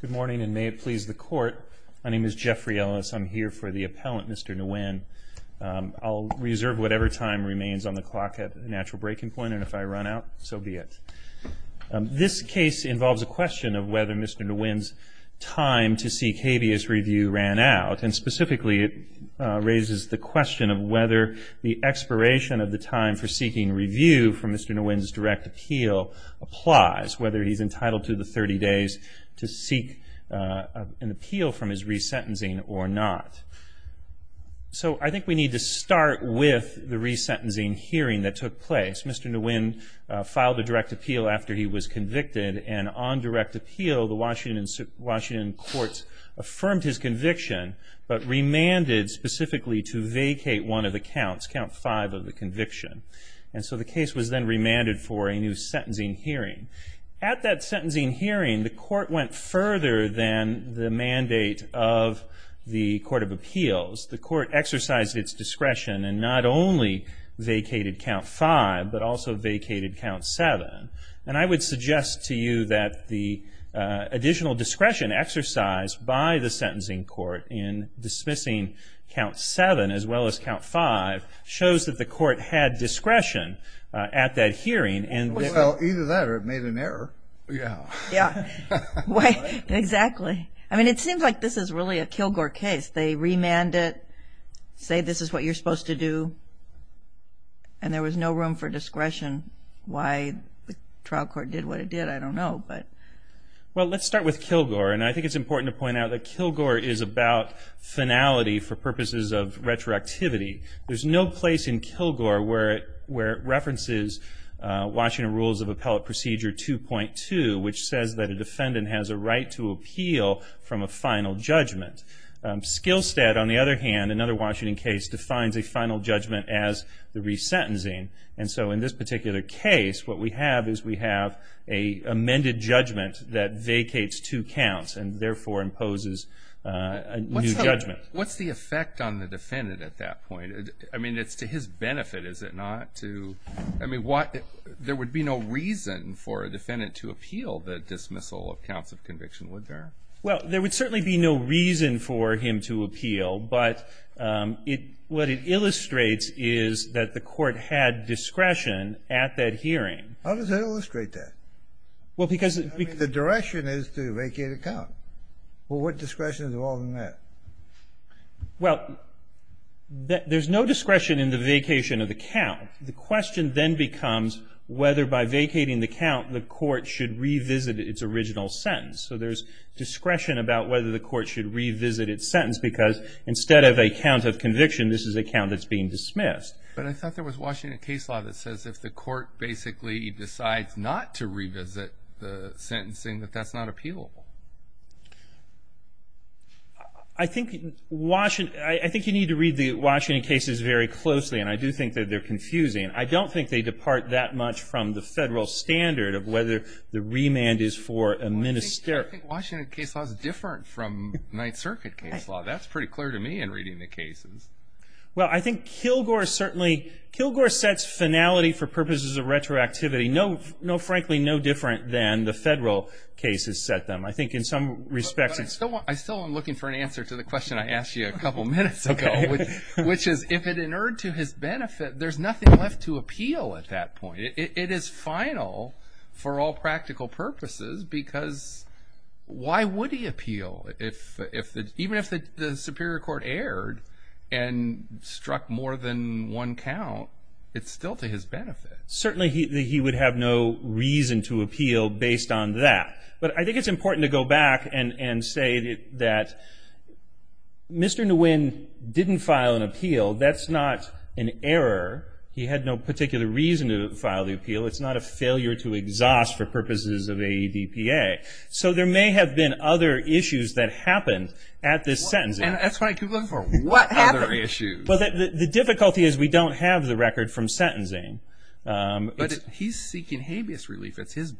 Good morning and may it please the court. My name is Jeffrey Ellis. I'm here for the appellant Mr. Nguyen. I'll reserve whatever time remains on the clock at natural breaking point and if I run out so be it. This case involves a question of whether Mr. Nguyen's time to seek habeas review ran out and specifically it raises the question of whether the expiration of the time for seeking review from Mr. Nguyen's direct appeal applies. Whether he's entitled to the 30 days to seek an appeal from his resentencing or not. So I think we need to start with the resentencing hearing that took place. Mr. Nguyen filed a direct appeal after he was convicted and on direct appeal the Washington courts affirmed his conviction but remanded specifically to vacate one of the counts, count five of the conviction. And so the case was then remanded for a new sentencing hearing. At that sentencing hearing the court went further than the mandate of the Court of Appeals. The court exercised its discretion and not only vacated count five but also vacated count seven. And I would suggest to you that the additional discretion exercised by the sentencing court in dismissing count seven as well as count five shows that the court had discretion at that hearing. Well either that or it made an error. Yeah, exactly. I mean it seems like this is really a Kilgore case. They remanded it, say this is what you're supposed to do and there was no room for discretion. Why the trial court did what it did I don't know. Well let's start with Kilgore and I think it's important to point out that Kilgore is about finality for purposes of where it references Washington Rules of Appellate Procedure 2.2 which says that a defendant has a right to appeal from a final judgment. Skillstead on the other hand, another Washington case, defines a final judgment as the resentencing. And so in this particular case what we have is we have a amended judgment that vacates two counts and therefore imposes a new judgment. What's the effect on the defendant to, I mean what, there would be no reason for a defendant to appeal the dismissal of counts of conviction would there? Well there would certainly be no reason for him to appeal but it what it illustrates is that the court had discretion at that hearing. How does it illustrate that? Well because the direction is to vacate a count. Well what discretion is involved in that? Well there's no discretion in the vacation of the count. The question then becomes whether by vacating the count the court should revisit its original sentence. So there's discretion about whether the court should revisit its sentence because instead of a count of conviction this is a count that's being dismissed. But I thought there was Washington case law that says if the court basically decides not to revisit the sentencing that that's not appealable. I think Washington, I think you need to read the Washington cases very closely and I do think that they're confusing. I don't think they depart that much from the federal standard of whether the remand is for a minister. I think Washington case law is different from Ninth Circuit case law. That's pretty clear to me in reading the cases. Well I think Kilgore certainly, Kilgore sets finality for purposes of retroactivity. No, no frankly no different than the federal cases set them. I think in some respects. I still am looking for an answer to the question I asked you a couple minutes ago, which is if it inerred to his benefit there's nothing left to appeal at that point. It is final for all practical purposes because why would he appeal? Even if the Superior Court erred and struck more than one count it's still to his benefit. Certainly he would have no reason to go back and say that Mr. Nguyen didn't file an appeal. That's not an error. He had no particular reason to file the appeal. It's not a failure to exhaust for purposes of AEDPA. So there may have been other issues that happened at this sentencing. And that's why I keep looking for what other issues. The difficulty is we don't have the record from sentencing. But he's seeking habeas relief. It's his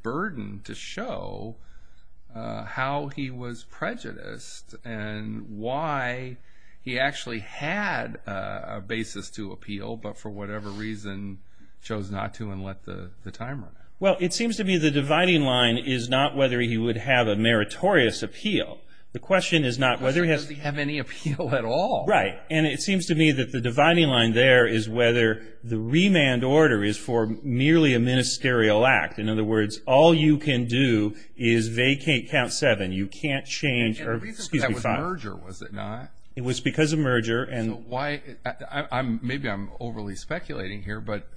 how he was prejudiced and why he actually had a basis to appeal but for whatever reason chose not to and let the timer run out. Well it seems to me the dividing line is not whether he would have a meritorious appeal. The question is not whether he has any appeal at all. Right and it seems to me that the dividing line there is whether the remand order is for merely a ministerial act. In other words, all you can do is vacate count seven. You can't change or excuse me. It was merger was it not? It was because of merger. And why I'm maybe I'm overly speculating here but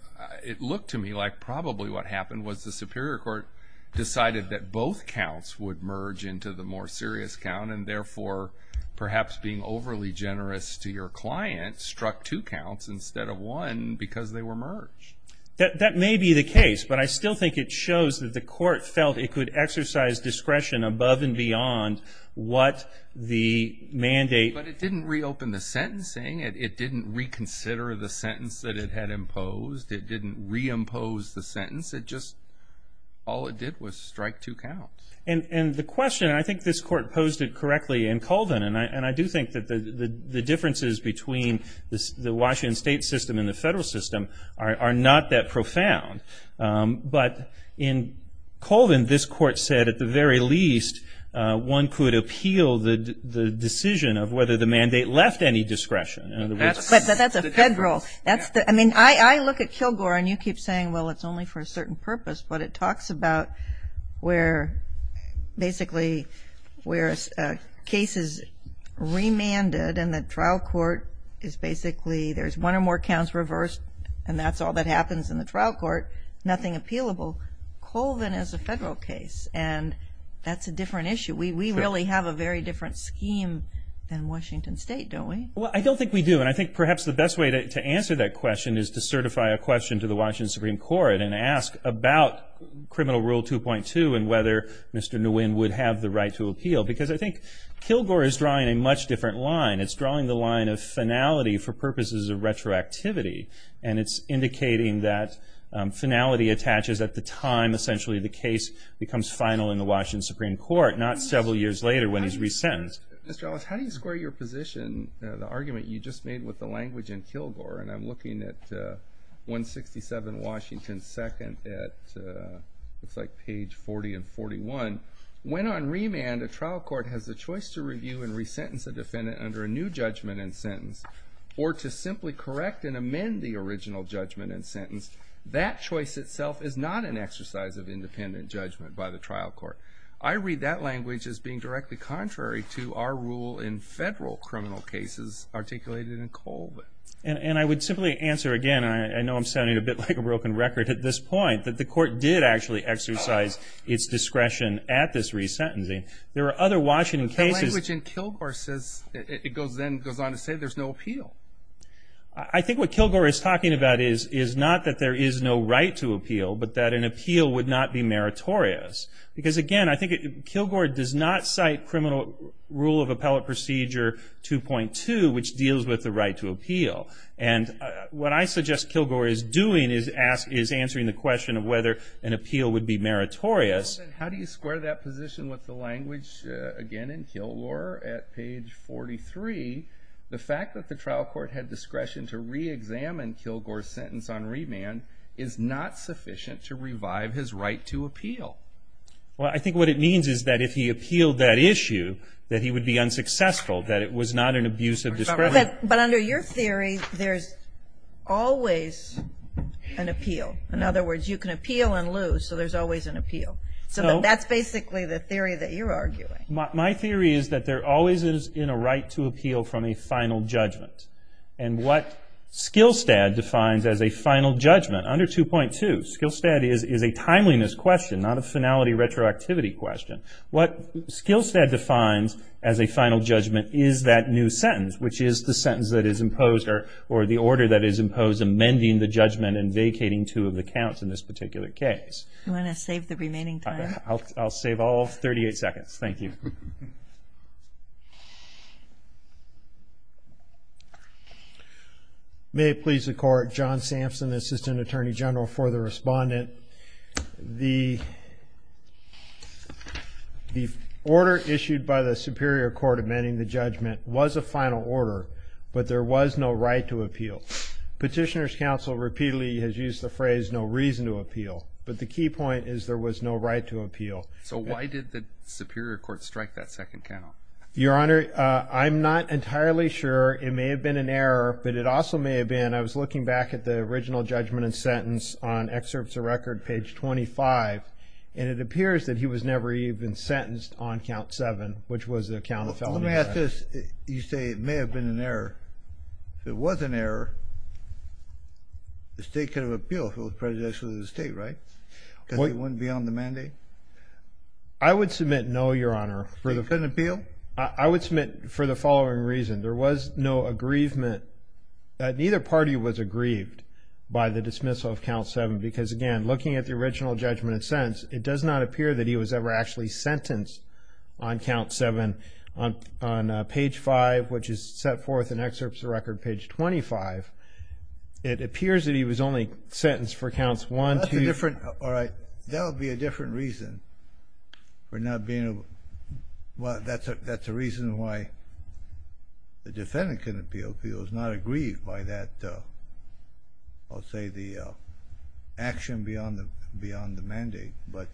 it looked to me like probably what happened was the Superior Court decided that both counts would merge into the more serious count and therefore perhaps being overly generous to your client struck two counts instead of one because they were merged. That that may be the case but I still think it shows that the court felt it could exercise discretion above and beyond what the mandate. But it didn't reopen the sentencing. It didn't reconsider the sentence that it had imposed. It didn't reimpose the sentence. It just all it did was strike two counts. And and the question I think this court posed it correctly in Colvin and I and I do think that the the differences between the Washington state system and the federal system are not that profound. But in Colvin this court said at the very least one could appeal the the decision of whether the mandate left any discretion. That's a federal that's the I mean I I look at Kilgore and you keep saying well it's only for a certain purpose but it talks about where basically where cases remanded and the trial court is basically there's one or more counts reversed and that's all that happens in the trial court. Nothing appealable. Colvin is a federal case and that's a different issue. We really have a very different scheme than Washington State don't we? Well I don't think we do and I think perhaps the best way to answer that question is to certify a question to the Washington Supreme Court and ask about criminal rule 2.2 and whether Mr. Nguyen would have the right to appeal because I think Kilgore is drawing a much different line. It's drawing the line of finality for purposes of retroactivity and it's indicating that finality attaches at the time essentially the case becomes final in the Washington Supreme Court not several years later when he's resentenced. Mr. Ellis how do you square your position the argument you just made with the language in Kilgore and I'm looking at 167 Washington 2nd at looks like page 40 and 41. When on remand a trial court has the choice to review and new judgment and sentence or to simply correct and amend the original judgment and sentence that choice itself is not an exercise of independent judgment by the trial court. I read that language as being directly contrary to our rule in federal criminal cases articulated in Colvin. And I would simply answer again I know I'm sounding a bit like a broken record at this point that the court did actually exercise its discretion at this resentencing. There are other Washington cases. The language in Kilgore says it goes then goes on to say there's no appeal. I think what Kilgore is talking about is is not that there is no right to appeal but that an appeal would not be meritorious because again I think Kilgore does not cite criminal rule of appellate procedure 2.2 which deals with the right to appeal and what I suggest Kilgore is doing is ask is answering the question of whether an appeal would be meritorious. How do you square that position with the language again in Kilgore at page 43 the fact that the trial court had discretion to re-examine Kilgore's sentence on remand is not sufficient to revive his right to appeal. Well I think what it means is that if he appealed that issue that he would be unsuccessful that it was not an abuse of discretion. But under your theory there's always an appeal. In other words you can appeal and lose so there's always an appeal. So that's basically the theory that you're arguing. My theory is that there always is in a right to appeal from a final judgment and what Skillstead defines as a final judgment under 2.2. Skillstead is a timeliness question not a finality retroactivity question. What Skillstead defines as a final judgment is that new sentence which is the sentence that is imposed or the order that is imposed amending the judgment and vacating two of the remaining time. I'll save all 38 seconds. Thank you. May it please the court. John Sampson assistant attorney general for the respondent. The order issued by the Superior Court amending the judgment was a final order but there was no right to appeal. Petitioners counsel repeatedly has used the phrase no reason to appeal but the key point is there was no right to appeal. So why did the Superior Court strike that second count? Your honor I'm not entirely sure it may have been an error but it also may have been I was looking back at the original judgment and sentence on excerpts of record page 25 and it appears that he was never even sentenced on count seven which was the count of felony. Let me ask this. You say it may have been an error. If it was an error the state could have appealed if it was prejudicial to the state right? Because it wouldn't be on the mandate? I would submit no your honor. They couldn't appeal? I would submit for the following reason. There was no aggrievement that neither party was aggrieved by the dismissal of count seven because again looking at the original judgment and sentence it does not appear that he was ever actually sentenced on count seven on page five which is set forth in excerpts of record page 25. It appears that he was only sentenced for counts one two. All right that would be a different reason for not being well that's a that's a reason why the defendant couldn't be appealed. He was not aggrieved by that I'll say the action beyond the beyond the mandate but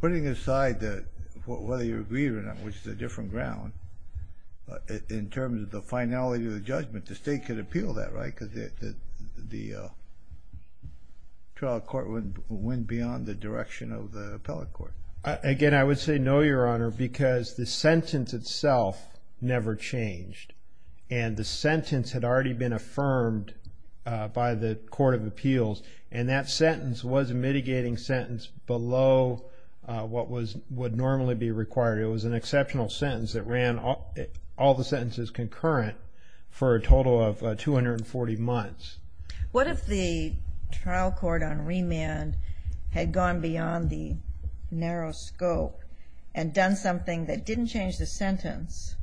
putting aside that whether you're aggrieved or not which is a different ground in terms of the finality of the judgment the state could appeal that right? Because the trial court wouldn't went beyond the direction of the appellate court. Again I would say no your honor because the sentence itself never changed and the sentence had already been affirmed by the Court of Appeals and that sentence was a was an exceptional sentence that ran all the sentences concurrent for a total of 240 months. What if the trial court on remand had gone beyond the narrow scope and done something that didn't change the sentence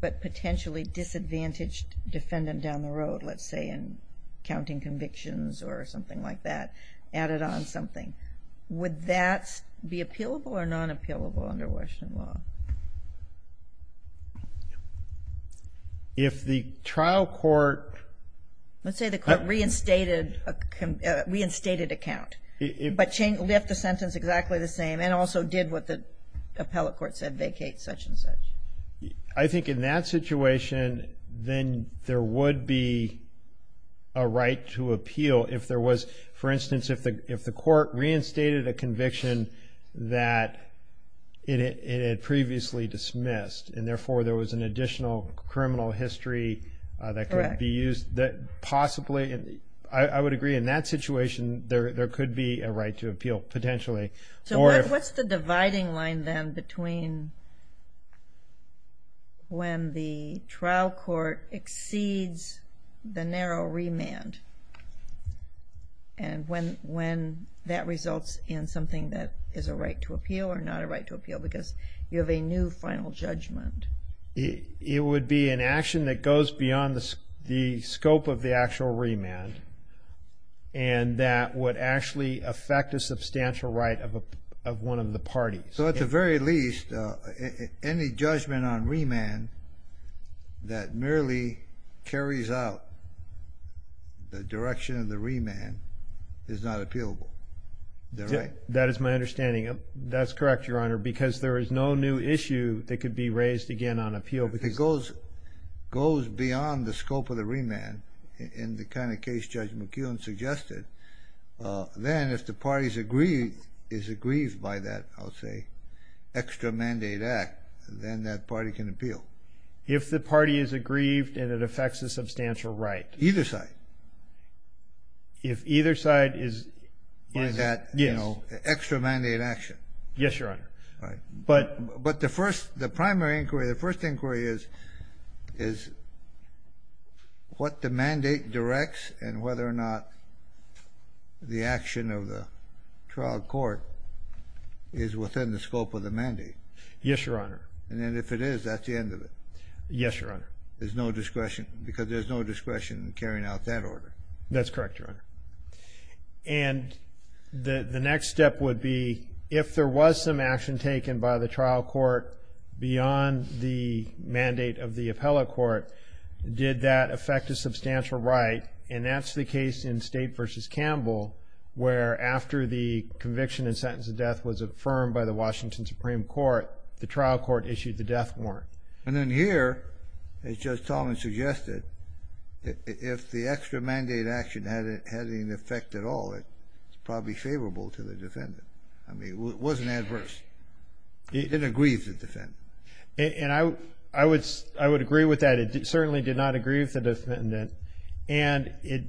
but potentially disadvantaged defendant down the road let's say in counting convictions or something like that added on something. Would that be appealable or not? If the trial court let's say the court reinstated a reinstated account but changed left the sentence exactly the same and also did what the appellate court said vacate such-and-such. I think in that situation then there would be a right to appeal if there was for instance if the if the court reinstated a conviction that it had previously dismissed and therefore there was an additional criminal history that could be used that possibly I would agree in that situation there could be a right to appeal potentially. So what's the dividing line then between when the trial court exceeds the narrow remand and when when that results in something that is a right to appeal or not a right to appeal because you have a new final judgment? It would be an action that goes beyond the scope of the actual remand and that would actually affect a substantial right of a one of the parties. So at the very least any judgment on remand that merely carries out the direction of the remand is not appealable. That is my understanding. That's correct your honor because there is no new issue that could be raised again on appeal. It goes goes beyond the scope of the remand in the kind of case Judge McEwen suggested then if the party can appeal. If the party is aggrieved and it affects a substantial right. Either side. If either side is. By that you know extra mandate action. Yes your honor. But but the first the primary inquiry the first inquiry is is what the mandate directs and whether or not the action of the trial court is within the scope of the remand. And if it is that's the end of it. Yes your honor. There's no discretion because there's no discretion in carrying out that order. That's correct your honor. And the the next step would be if there was some action taken by the trial court beyond the mandate of the appellate court did that affect a substantial right and that's the case in State versus Campbell where after the conviction and sentence of death was affirmed by the Washington Supreme Court the trial court issued the death warrant. And then here as Judge Talman suggested if the extra mandate action hadn't had any effect at all it's probably favorable to the defendant. I mean it wasn't adverse. It didn't aggrieve the defendant. And I would I would I would agree with that it certainly did not agree with the defendant and it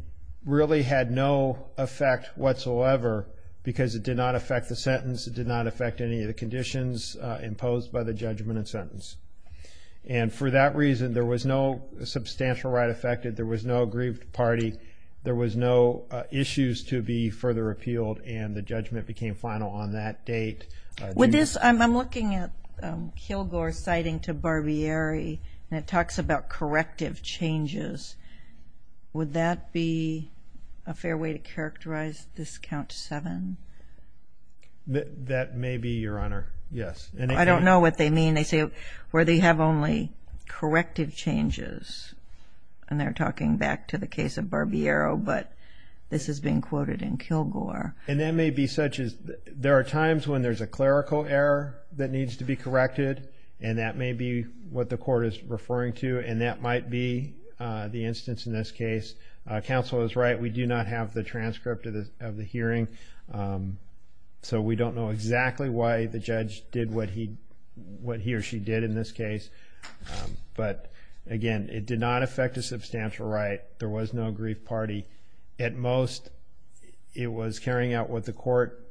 really had no effect whatsoever because it did not affect the sentence. It did not affect any of the conditions imposed by the judgment and sentence. And for that reason there was no substantial right affected. There was no aggrieved party. There was no issues to be further repealed and the judgment became final on that date. With this I'm looking at Kilgore citing to Barbieri and it talks about corrective changes. Would that be a That may be your honor. Yes. I don't know what they mean. They say where they have only corrective changes and they're talking back to the case of Barbiero but this has been quoted in Kilgore. And that may be such as there are times when there's a clerical error that needs to be corrected and that may be what the court is referring to and that might be the instance in this case. Counsel is right we do not have the transcript of the hearing so we don't know exactly why the judge did what he what he or she did in this case. But again it did not affect a substantial right. There was no aggrieved party. At most it was carrying out what the Court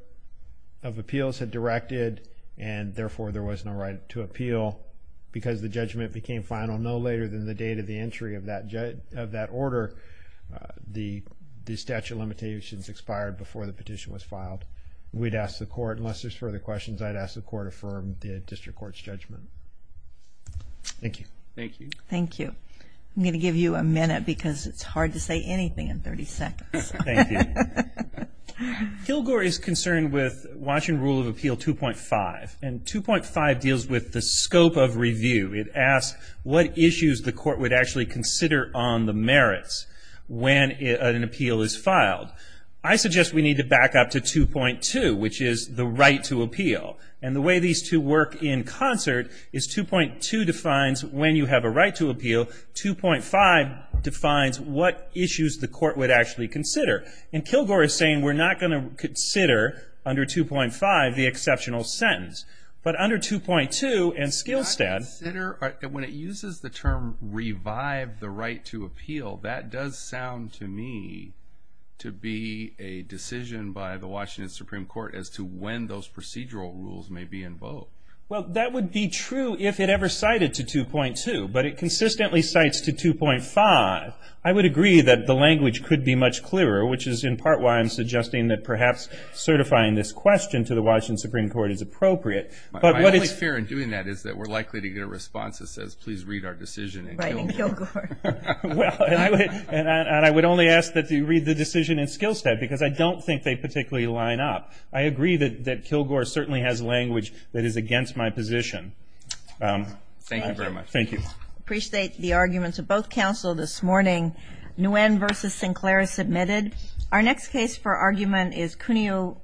of Appeals had directed and therefore there was no right to appeal because the judgment became final no later than the date of entry of that order the statute of limitations expired before the petition was filed. We'd ask the court unless there's further questions I'd ask the court affirm the district court's judgment. Thank you. Thank you. Thank you. I'm gonna give you a minute because it's hard to say anything in 30 seconds. Kilgore is concerned with Washington Rule of Appeal 2.5 and 2.5 deals with the scope of review. It asks what issues the court would actually consider on the merits when an appeal is filed. I suggest we need to back up to 2.2 which is the right to appeal and the way these two work in concert is 2.2 defines when you have a right to appeal. 2.5 defines what issues the court would actually consider and Kilgore is saying we're not going to consider under 2.5 the review and skill stat. When it uses the term revive the right to appeal that does sound to me to be a decision by the Washington Supreme Court as to when those procedural rules may be invoked. Well that would be true if it ever cited to 2.2 but it consistently cites to 2.5. I would agree that the language could be much clearer which is in part why I'm suggesting that perhaps certifying this question to the Washington Supreme Court is appropriate. My only fear in doing that is that we're likely to get a response that says please read our decision in Kilgore. And I would only ask that you read the decision in skill stat because I don't think they particularly line up. I agree that that Kilgore certainly has language that is against my position. Thank you very much. Thank you. Appreciate the arguments of both counsel this morning. Nguyen versus Sinclair is submitted. Our next case for argument is Cuneo.